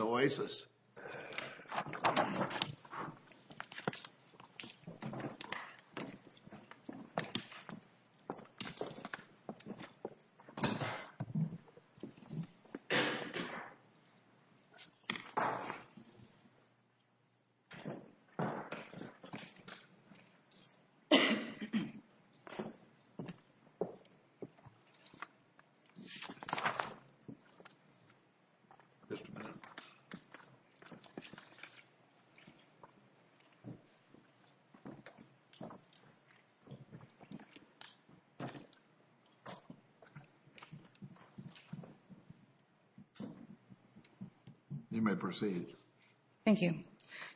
Oasis. You may proceed. Thank you.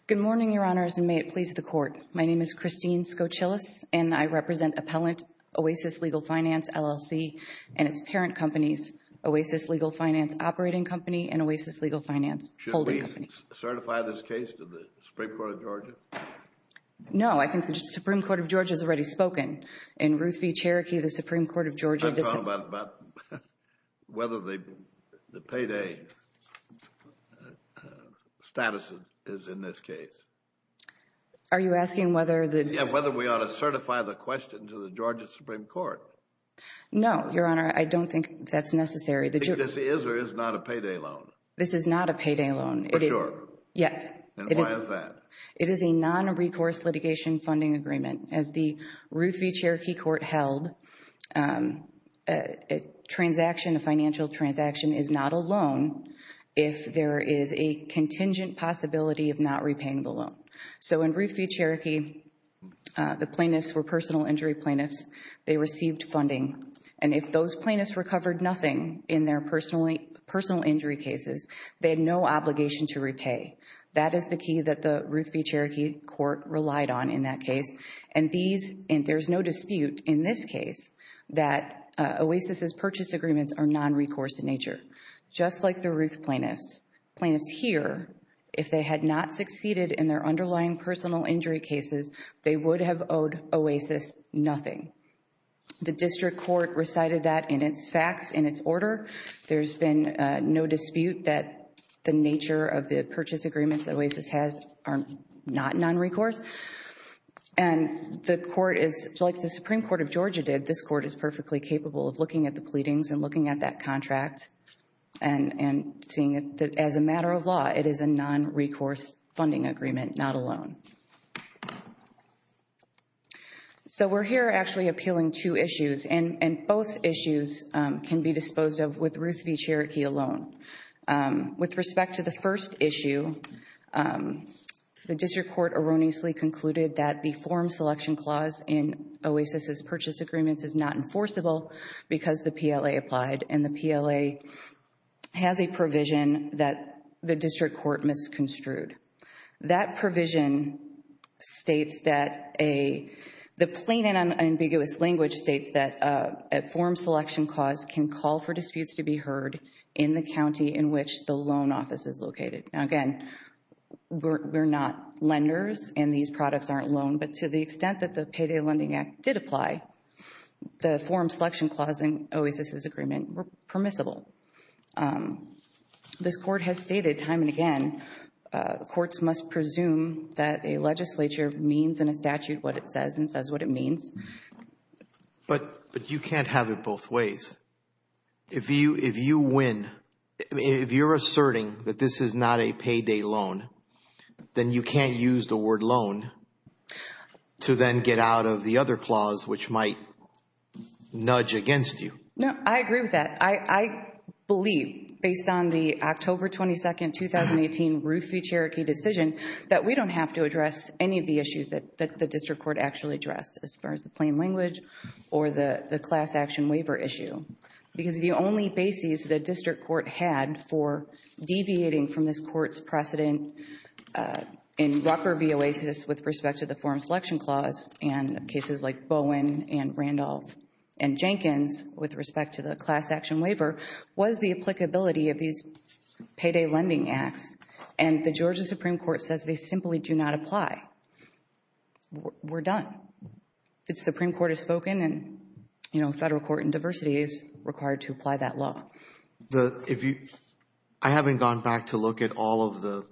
Good morning, Your Honors, and may it please the Court. My name is Christine Skocilis, and I represent Appellant Oasis Legal Finance, LLC, and its holding company. Should we certify this case to the Supreme Court of Georgia? No. I think the Supreme Court of Georgia has already spoken. In Ruth v. Cherokee, the Supreme Court of Georgia dissented. I'm talking about whether the payday status is in this case. Are you asking whether the... Yes, whether we ought to certify the question to the Georgia Supreme Court. No, Your Honor. I don't think that's necessary. Because it is or is not a payday loan. This is not a payday loan. For sure. Yes. And why is that? It is a non-recourse litigation funding agreement. As the Ruth v. Cherokee Court held, a transaction, a financial transaction is not a loan if there is a contingent possibility of not repaying the loan. So in Ruth v. Cherokee, the plaintiffs were personal injury plaintiffs. They received funding. And if those plaintiffs recovered nothing in their personal injury cases, they had no obligation to repay. That is the key that the Ruth v. Cherokee Court relied on in that case. And there's no dispute in this case that OASIS's purchase agreements are non-recourse in nature. Just like the Ruth plaintiffs, plaintiffs here, if they had not succeeded in their underlying personal injury cases, they would have owed OASIS nothing. The district court recited that in its facts, in its order. There's been no dispute that the nature of the purchase agreements that OASIS has are not non-recourse. And the court is, just like the Supreme Court of Georgia did, this court is perfectly capable of looking at the pleadings and looking at that contract and seeing that as a matter of law, it is a non-recourse funding agreement, not a loan. So, we're here actually appealing two issues, and both issues can be disposed of with Ruth v. Cherokee alone. With respect to the first issue, the district court erroneously concluded that the form selection clause in OASIS's purchase agreements is not enforceable because the PLA applied, and the PLA has a provision that the district court misconstrued. That provision states that a, the plain and unambiguous language states that a form selection clause can call for disputes to be heard in the county in which the loan office is located. Now, again, we're not lenders, and these products aren't loaned, but to the extent that the Payday Lending Act did apply, the form selection clause in OASIS's agreement were permissible. This court has stated time and again, courts must presume that a legislature means in a statute what it says and says what it means. But you can't have it both ways. If you win, if you're asserting that this is not a payday loan, then you can't use the word loan to then get out of the other clause, which might nudge against you. No, I agree with that. But I believe, based on the October 22nd, 2018 Ruth v. Cherokee decision, that we don't have to address any of the issues that the district court actually addressed as far as the plain language or the class action waiver issue, because the only basis the district court had for deviating from this court's precedent in Rucker v. OASIS with respect to the form selection clause and cases like Bowen and Randolph and Jenkins with respect to the class action waiver was the applicability of these payday lending acts. And the Georgia Supreme Court says they simply do not apply. We're done. The Supreme Court has spoken and, you know, federal court and diversity is required to apply that law. I haven't gone back to look at all of the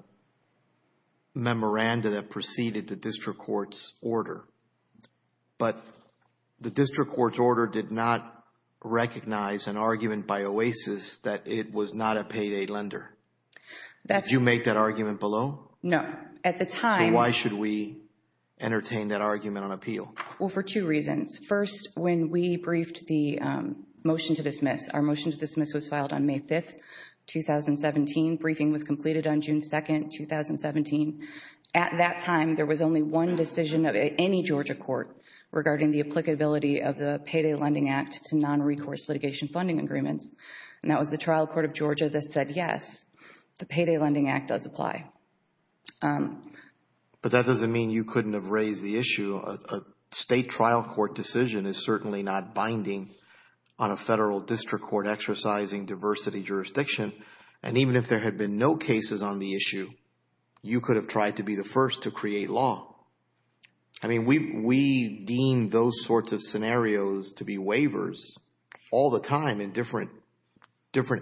memoranda that preceded the district court's But the district court's order did not recognize an argument by OASIS that it was not a payday lender. Did you make that argument below? No. At the time... So why should we entertain that argument on appeal? Well, for two reasons. First, when we briefed the motion to dismiss, our motion to dismiss was filed on May 5th, 2017. Briefing was completed on June 2nd, 2017. At that time, there was only one decision of any Georgia court regarding the applicability of the Payday Lending Act to non-recourse litigation funding agreements, and that was the trial court of Georgia that said, yes, the Payday Lending Act does apply. But that doesn't mean you couldn't have raised the issue. A state trial court decision is certainly not binding on a federal district court exercising diversity jurisdiction. And even if there had been no cases on the issue, you could have tried to be the first to create law. We deem those sorts of scenarios to be waivers all the time in different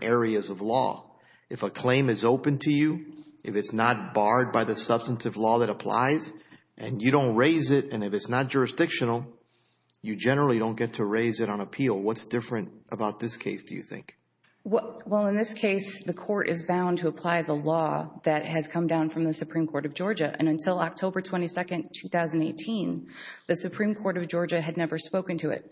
areas of law. If a claim is open to you, if it's not barred by the substantive law that applies, and you don't raise it, and if it's not jurisdictional, you generally don't get to raise it on appeal. What's different about this case, do you think? Well, in this case, the court is bound to apply the law that has come down from the Supreme Court of Georgia. And until October 22nd, 2018, the Supreme Court of Georgia had never spoken to it.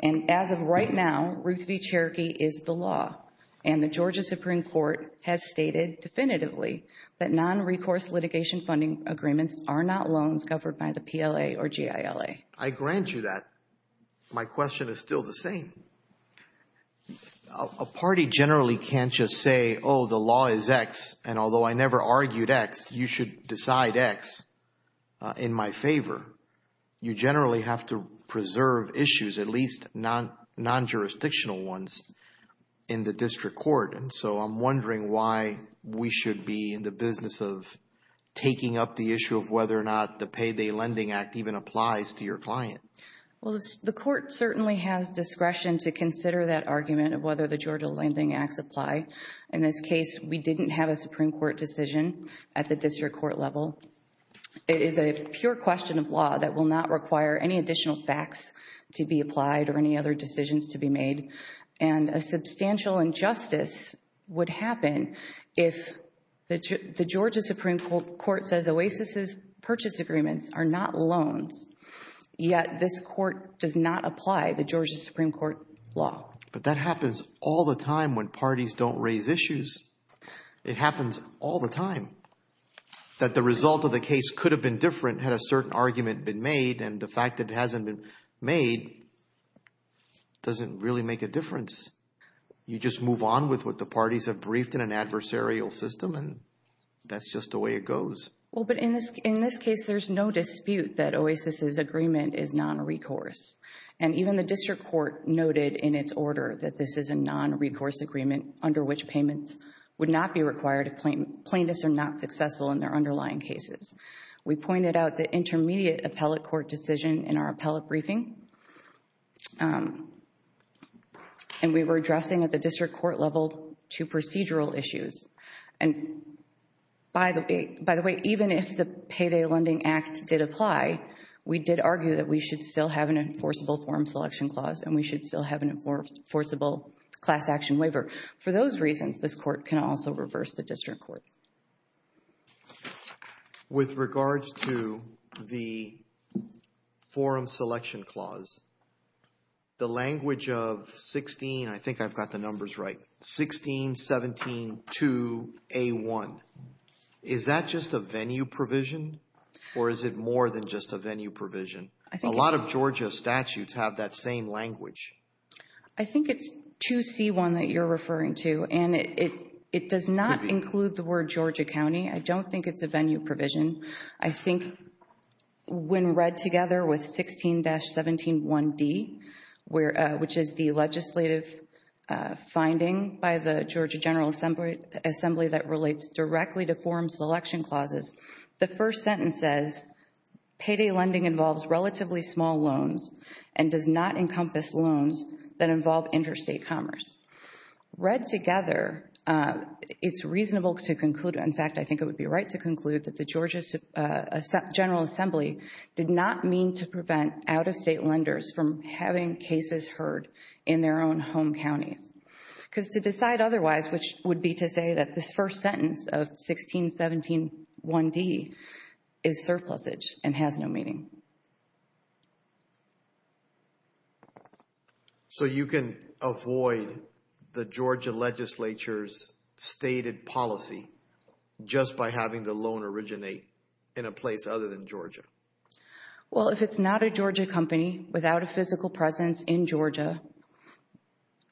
And as of right now, Ruth v. Cherokee is the law. And the Georgia Supreme Court has stated definitively that non-recourse litigation funding agreements are not loans covered by the PLA or GILA. I grant you that. My question is still the same. A party generally can't just say, oh, the law is X, and although I never argued X, you should decide X in my favor. You generally have to preserve issues, at least non-jurisdictional ones, in the district court. And so I'm wondering why we should be in the business of taking up the issue of whether or not the Payday Lending Act even applies to your client. Well, the court certainly has discretion to consider that argument of whether the Georgia Lending Acts apply. In this case, we didn't have a Supreme Court decision at the district court level. It is a pure question of law that will not require any additional facts to be applied or any other decisions to be made. And a substantial injustice would happen if the Georgia Supreme Court says OASIS's purchase agreements are not loans, yet this court does not apply the Georgia Supreme Court law. But that happens all the time when parties don't raise issues. It happens all the time. That the result of the case could have been different had a certain argument been made, and the fact that it hasn't been made doesn't really make a difference. You just move on with what the parties have briefed in an adversarial system, and that's just the way it goes. Well, but in this case, there's no dispute that OASIS's agreement is non-recourse. And even the district court noted in its order that this is a non-recourse agreement under which payments would not be required if plaintiffs are not successful in their underlying cases. We pointed out the intermediate appellate court decision in our appellate briefing, and we were addressing at the district court level two procedural issues. And by the way, even if the Payday Lending Act did apply, we did argue that we should still have an enforceable form selection clause, and we should still have an enforceable class action waiver. For those reasons, this court can also reverse the district court. With regards to the forum selection clause, the language of 16, I think I've got the numbers right, 16-17-2A1. Is that just a venue provision, or is it more than just a venue provision? A lot of Georgia statutes have that same language. I think it's 2C1 that you're referring to, and it does not include the word Georgia County. I don't think it's a venue provision. I think when read together with 16-17-1D, which is the legislative finding by the Georgia General Assembly that relates directly to forum selection clauses, the first sentence says payday lending involves relatively small loans and does not encompass loans that involve interstate commerce. Read together, it's reasonable to conclude, in fact, I think it would be right to conclude that the Georgia General Assembly did not mean to prevent out-of-state lenders from having cases heard in their own home counties, because to decide otherwise, which would be to say that this first sentence of 16-17-1D is surplusage and has no meaning. So, you can avoid the Georgia legislature's stated policy just by having the loan originate in a place other than Georgia? Well, if it's not a Georgia company without a physical presence in Georgia,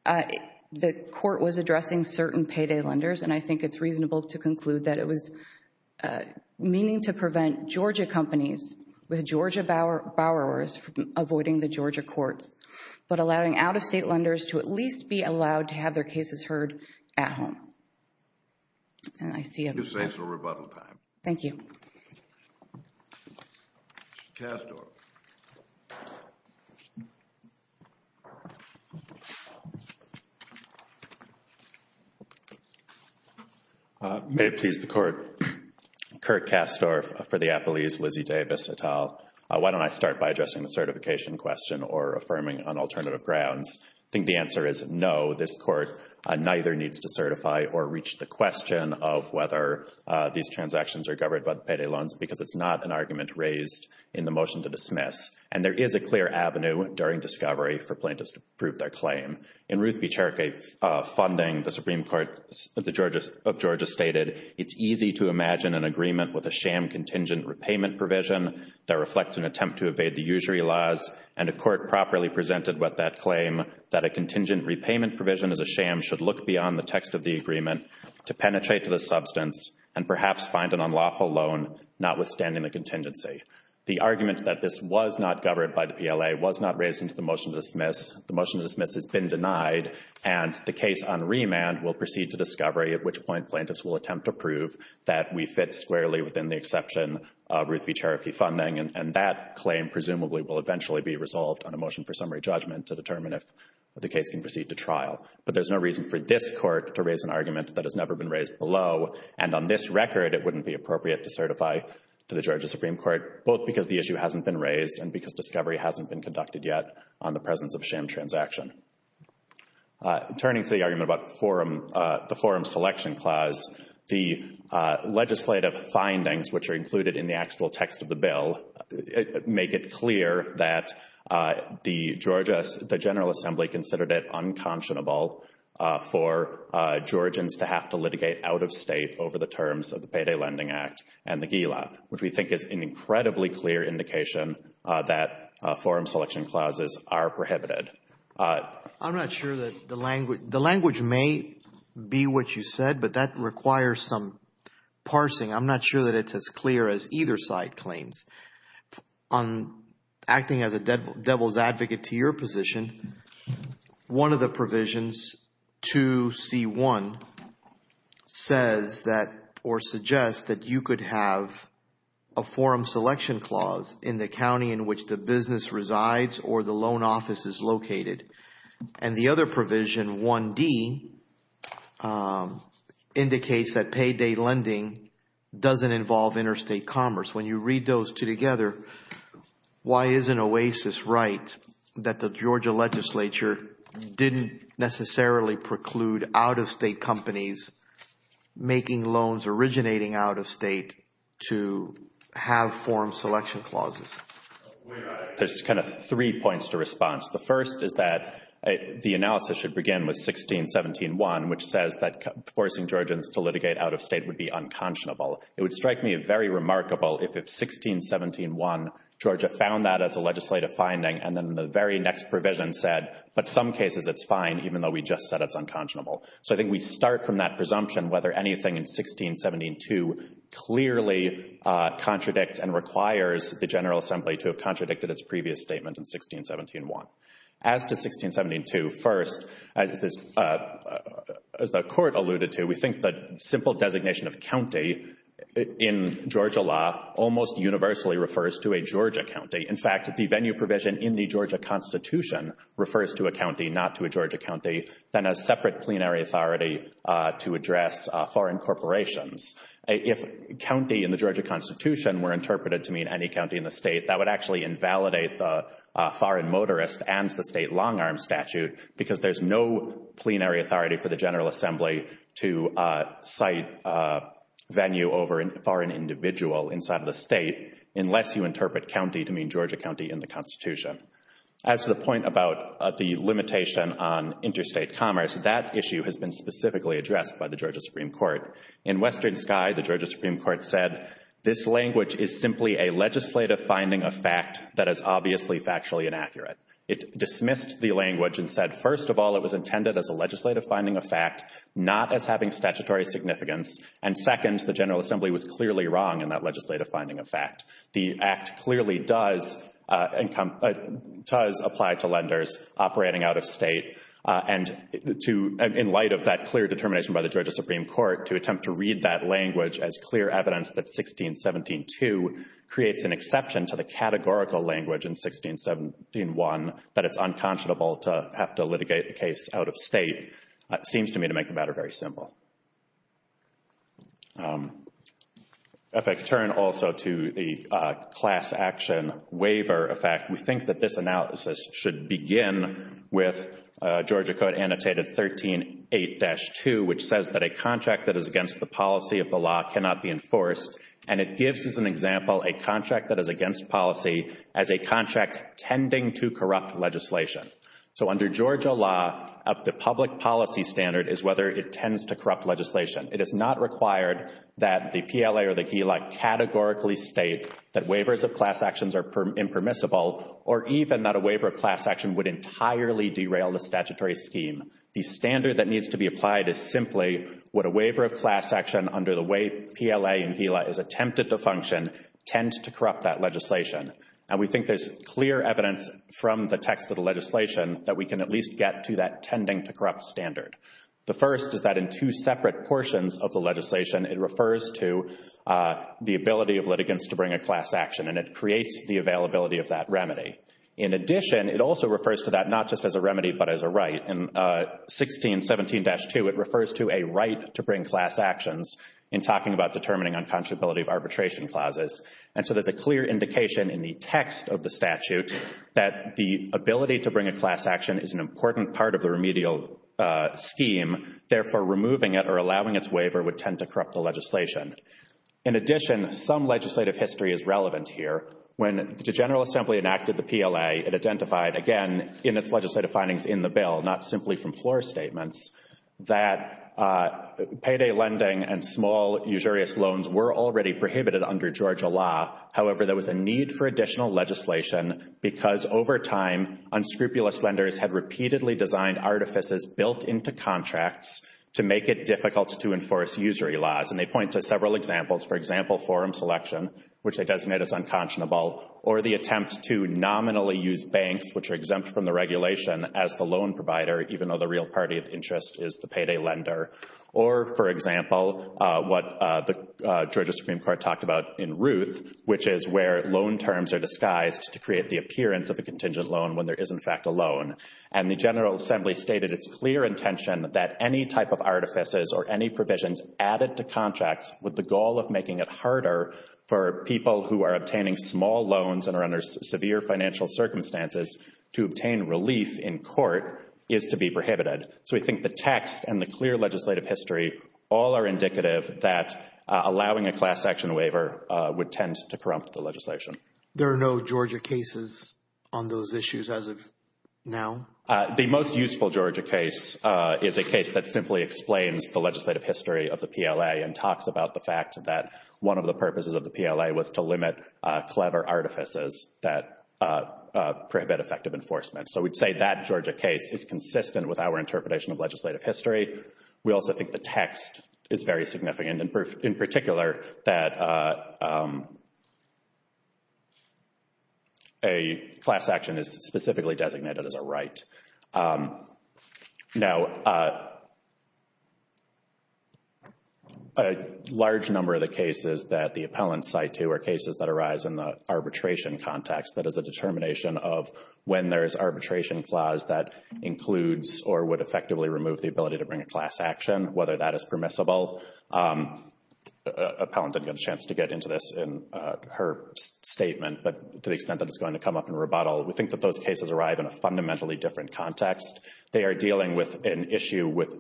the court was addressing certain payday lenders, and I think it's reasonable to conclude that it was meaning to prevent Georgia companies with Georgia borrowers from avoiding the Georgia courts, but allowing out-of-state lenders to at least be allowed to have their cases heard at home, and I see a... You're safe for rebuttal time. Thank you. Ms. Castor. May it please the Court. Kirk Castor for the Appellees, Lizzie Davis, et al. Why don't I start by addressing the certification question or affirming on alternative grounds? I think the answer is no, this Court neither needs to certify or reach the question of whether these transactions are governed by the payday loans, because it's not an argument raised in the motion to dismiss, and there is a clear avenue during discovery for plaintiffs to prove their claim. In Ruth B. Cherokee funding, the Supreme Court of Georgia stated, it's easy to imagine an agreement with a sham contingent repayment provision that reflects an attempt to evade the usury laws, and the Court properly presented with that claim that a contingent repayment provision as a sham should look beyond the text of the agreement to penetrate to the agency. The argument that this was not governed by the PLA was not raised in the motion to dismiss. The motion to dismiss has been denied, and the case on remand will proceed to discovery, at which point plaintiffs will attempt to prove that we fit squarely within the exception of Ruth B. Cherokee funding, and that claim presumably will eventually be resolved on a motion for summary judgment to determine if the case can proceed to trial. But there's no reason for this Court to raise an argument that has never been raised below, and on this record, it wouldn't be appropriate to certify to the Georgia Supreme Court, both because the issue hasn't been raised and because discovery hasn't been conducted yet on the presence of sham transaction. Turning to the argument about the forum selection clause, the legislative findings, which are included in the actual text of the bill, make it clear that the Georgia—the General Assembly considered it unconscionable for Georgians to have to litigate out of state over the terms of the Payday Lending Act and the GILA, which we think is an incredibly clear indication that forum selection clauses are prohibited. I'm not sure that the language—the language may be what you said, but that requires some parsing. I'm not sure that it's as clear as either side claims. On acting as a devil's advocate to your position, one of the provisions, 2C1, says that—or suggests that you could have a forum selection clause in the county in which the business resides or the loan office is located, and the other provision, 1D, indicates that payday lending doesn't involve interstate commerce. When you read those two together, why isn't OASIS right that the Georgia legislature didn't necessarily preclude out-of-state companies making loans originating out of state to have forum selection clauses? There's kind of three points to response. The first is that the analysis should begin with 1617.1, which says that forcing Georgians to litigate out of state would be unconscionable. It would strike me very remarkable if 1617.1, Georgia found that as a legislative finding, and then the very next provision said, but some cases it's fine, even though we just said it's unconscionable. So I think we start from that presumption whether anything in 1617.2 clearly contradicts and requires the General Assembly to have contradicted its previous statement in 1617.1. As to 1617.2, first, as the Court alluded to, we think that simple designation of county in Georgia law almost universally refers to a Georgia county. In fact, the venue provision in the Georgia Constitution refers to a county, not to a Georgia county, than a separate plenary authority to address foreign corporations. If county in the Georgia Constitution were interpreted to mean any county in the state, that would actually invalidate the foreign motorist and the state long arm statute because there's no plenary authority for the General Assembly to cite venue over a foreign individual inside of the state unless you interpret county to mean Georgia county in the Constitution. As to the point about the limitation on interstate commerce, that issue has been specifically addressed by the Georgia Supreme Court. In Western Sky, the Georgia Supreme Court said, this language is simply a legislative finding of fact that is obviously factually inaccurate. It dismissed the language and said, first of all, it was intended as a legislative finding of fact, not as having statutory significance, and second, the General Assembly was clearly wrong in that legislative finding of fact. The Act clearly does apply to lenders operating out of state, and in light of that clear determination by the Georgia Supreme Court, to attempt to read that language as clear evidence that was written to the categorical language in 1671, that it's unconscionable to have to litigate the case out of state, seems to me to make the matter very simple. If I could turn also to the class action waiver effect, we think that this analysis should begin with Georgia Code Annotated 13.8-2, which says that a contract that is against the policy of the law cannot be enforced, and it gives, as an example, a contract that is against policy as a contract tending to corrupt legislation. So under Georgia law, the public policy standard is whether it tends to corrupt legislation. It is not required that the PLA or the GILA categorically state that waivers of class actions are impermissible, or even that a waiver of class action would entirely derail the statutory scheme. The standard that needs to be applied is simply, would a waiver of class action under the way tend to corrupt that legislation? And we think there's clear evidence from the text of the legislation that we can at least get to that tending to corrupt standard. The first is that in two separate portions of the legislation, it refers to the ability of litigants to bring a class action, and it creates the availability of that remedy. In addition, it also refers to that not just as a remedy but as a right. In 1617-2, it refers to a right to bring class actions in talking about determining unconscionability of arbitration clauses. And so there's a clear indication in the text of the statute that the ability to bring a class action is an important part of the remedial scheme, therefore removing it or allowing its waiver would tend to corrupt the legislation. In addition, some legislative history is relevant here. When the General Assembly enacted the PLA, it identified, again, in its legislative findings in the bill, not simply from floor statements, that payday lending and small usurious loans were already prohibited under Georgia law. However, there was a need for additional legislation because over time, unscrupulous lenders had repeatedly designed artifices built into contracts to make it difficult to enforce usury laws. And they point to several examples, for example, forum selection, which they designate as unconscionable, or the attempt to nominally use banks, which are exempt from the regulation, as the loan provider even though the real party of interest is the payday lender. Or, for example, what the Georgia Supreme Court talked about in Ruth, which is where loan terms are disguised to create the appearance of a contingent loan when there is, in fact, a loan. And the General Assembly stated its clear intention that any type of artifices or any provisions added to contracts with the goal of making it harder for people who are obtaining small loans and are under severe financial circumstances to obtain relief in court is to be prohibited. So we think the text and the clear legislative history all are indicative that allowing a class action waiver would tend to corrupt the legislation. There are no Georgia cases on those issues as of now? The most useful Georgia case is a case that simply explains the legislative history of the PLA and talks about the fact that one of the purposes of the PLA was to limit clever artifices that prohibit effective enforcement. So we'd say that Georgia case is consistent with our interpretation of legislative history. We also think the text is very significant, in particular that a class action is specifically designated as a right. Now a large number of the cases that the appellants cite to are cases that arise in the arbitration context. That is a determination of when there is arbitration clause that includes or would effectively remove the ability to bring a class action, whether that is permissible. Appellant didn't get a chance to get into this in her statement, but to the extent that it's going to come up in rebuttal, we think that those cases arrive in a fundamentally different context. They are dealing with an issue with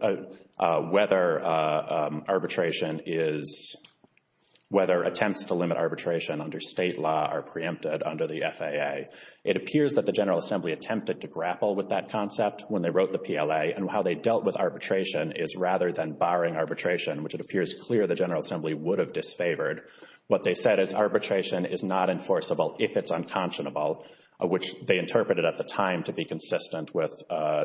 whether attempts to limit arbitration under state law are preempted under the FAA. It appears that the General Assembly attempted to grapple with that concept when they wrote the PLA, and how they dealt with arbitration is rather than barring arbitration, which it appears clear the General Assembly would have disfavored. What they said is arbitration is not enforceable if it's unconscionable, which they interpreted at the time to be consistent with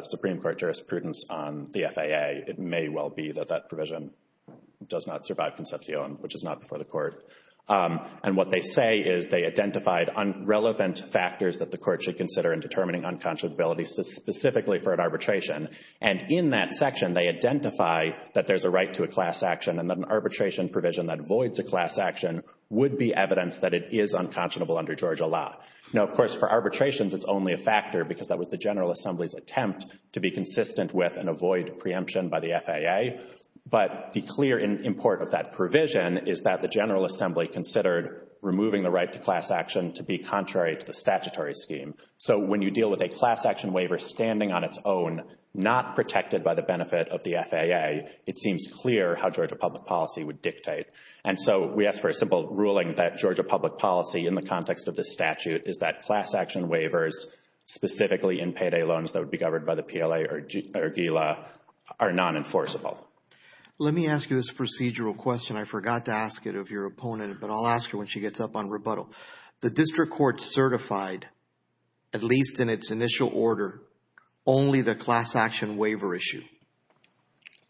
Supreme Court jurisprudence on the FAA. It may well be that that provision does not survive Concepcion, which is not before the court. And what they say is they identified unrelevant factors that the court should consider in determining unconscionability specifically for an arbitration. And in that section, they identify that there's a right to a class action and that an arbitration provision that avoids a class action would be evidence that it is unconscionable under Georgia law. Now, of course, for arbitrations, it's only a factor because that was the General Assembly's attempt to be consistent with and avoid preemption by the FAA. But the clear import of that provision is that the General Assembly considered removing the right to class action to be contrary to the statutory scheme. So when you deal with a class action waiver standing on its own, not protected by the benefit of the FAA, it seems clear how Georgia public policy would dictate. And so we ask for a simple ruling that Georgia public policy in the context of this statute is that class action waivers, specifically in payday loans that would be governed by the PLA or GILA, are non-enforceable. Let me ask you this procedural question. I forgot to ask it of your opponent, but I'll ask you when she gets up on rebuttal. The district court certified, at least in its initial order, only the class action waiver issue.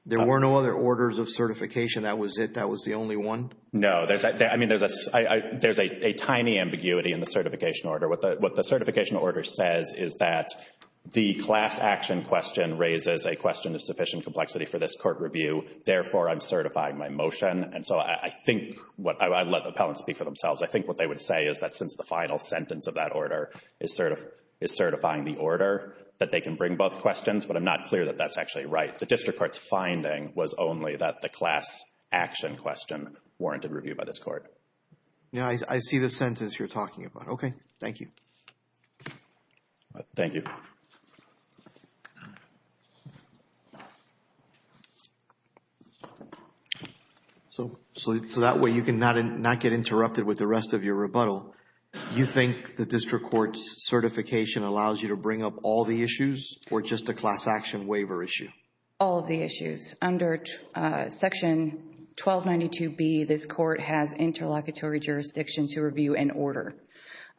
There were no other orders of certification. That was it? That was the only one? No. I mean, there's a tiny ambiguity in the certification order. What the certification order says is that the class action question raises a question of sufficient complexity for this court review. Therefore, I'm certifying my motion. And so I think what I'd let the appellants speak for themselves. I think what they would say is that since the final sentence of that order is certifying the order, that they can bring both questions. But I'm not clear that that's actually right. The district court's finding was only that the class action question warranted review by this court. Yeah, I see the sentence you're talking about. Okay. Thank you. All right. Thank you. So that way you can not get interrupted with the rest of your rebuttal. You think the district court's certification allows you to bring up all the issues or just a class action waiver issue? All of the issues. Under section 1292B, this court has interlocutory jurisdiction to review an order.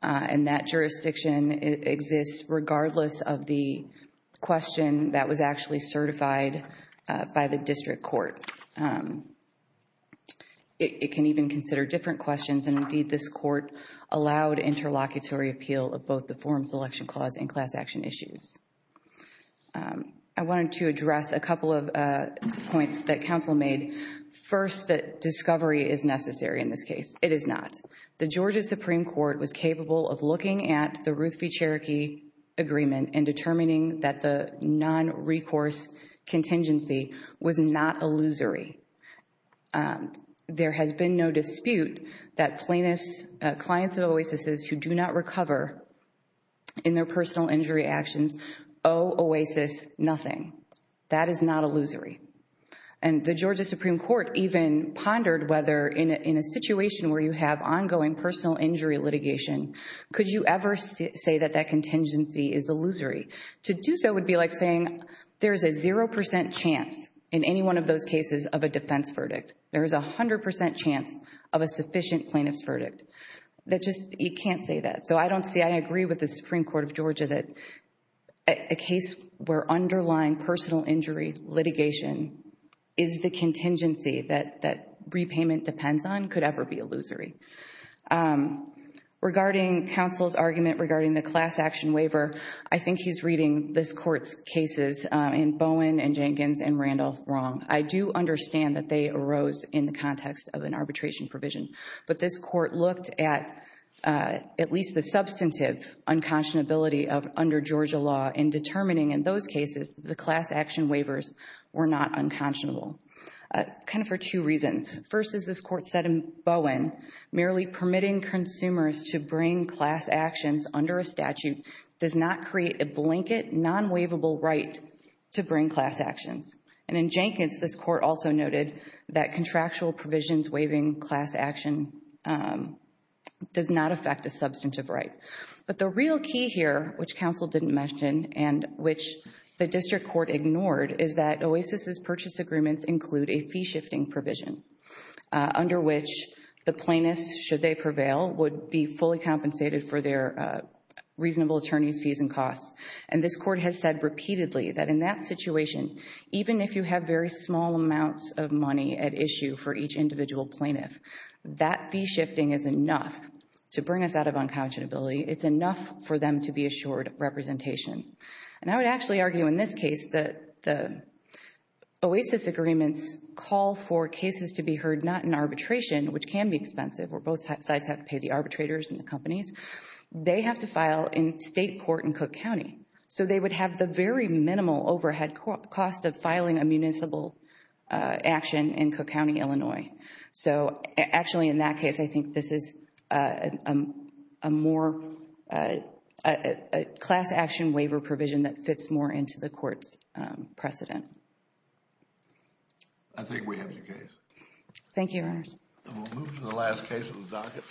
And that jurisdiction exists regardless of the question that was actually certified by the district court. It can even consider different questions. And indeed, this court allowed interlocutory appeal of both the form selection clause and class action issues. I wanted to address a couple of points that counsel made. First, that discovery is necessary in this case. It is not. The Georgia Supreme Court was capable of looking at the Ruth v. Cherokee agreement and determining that the non-recourse contingency was not illusory. There has been no dispute that plaintiffs, clients of Oasis's who do not recover in their personal injury actions, owe Oasis nothing. That is not illusory. And the Georgia Supreme Court even pondered whether in a situation where you have ongoing personal injury litigation, could you ever say that that contingency is illusory? To do so would be like saying there is a 0% chance in any one of those cases of a defense verdict. There is a 100% chance of a sufficient plaintiff's verdict. That just, you can't say that. So, I don't see, I agree with the Supreme Court of Georgia that a case where underlying personal injury litigation is the contingency that repayment depends on could ever be illusory. Regarding counsel's argument regarding the class action waiver, I think he's reading this Court's cases in Bowen and Jenkins and Randolph wrong. I do understand that they arose in the context of an arbitration provision. But this Court looked at at least the substantive unconscionability under Georgia law in determining in those cases the class action waivers were not unconscionable, kind of for two reasons. First is this Court said in Bowen, merely permitting consumers to bring class actions under a statute does not create a blanket non-waivable right to bring class actions. And in Jenkins, this Court also noted that contractual provisions waiving class action does not affect a substantive right. But the real key here, which counsel didn't mention and which the district court ignored, is that OASIS's purchase agreements include a fee-shifting provision under which the plaintiffs, should they prevail, would be fully compensated for their reasonable attorney's fees and costs. And this Court has said repeatedly that in that situation, even if you have very small amounts of money at issue for each individual plaintiff, that fee-shifting is enough to bring us out of unconscionability. It's enough for them to be assured representation. And I would actually argue in this case that the OASIS agreements call for cases to be heard not in arbitration, which can be expensive where both sides have to pay the arbitrators and the companies. They have to file in state court in Cook County. So they would have the very minimal overhead cost of filing a municipal action in Cook County, Illinois. So actually in that case, I think this is a more, a class action waiver provision that fits more into the Court's precedent. I think we have your case. Thank you, Your Honors. And we'll move to the last case of the docket.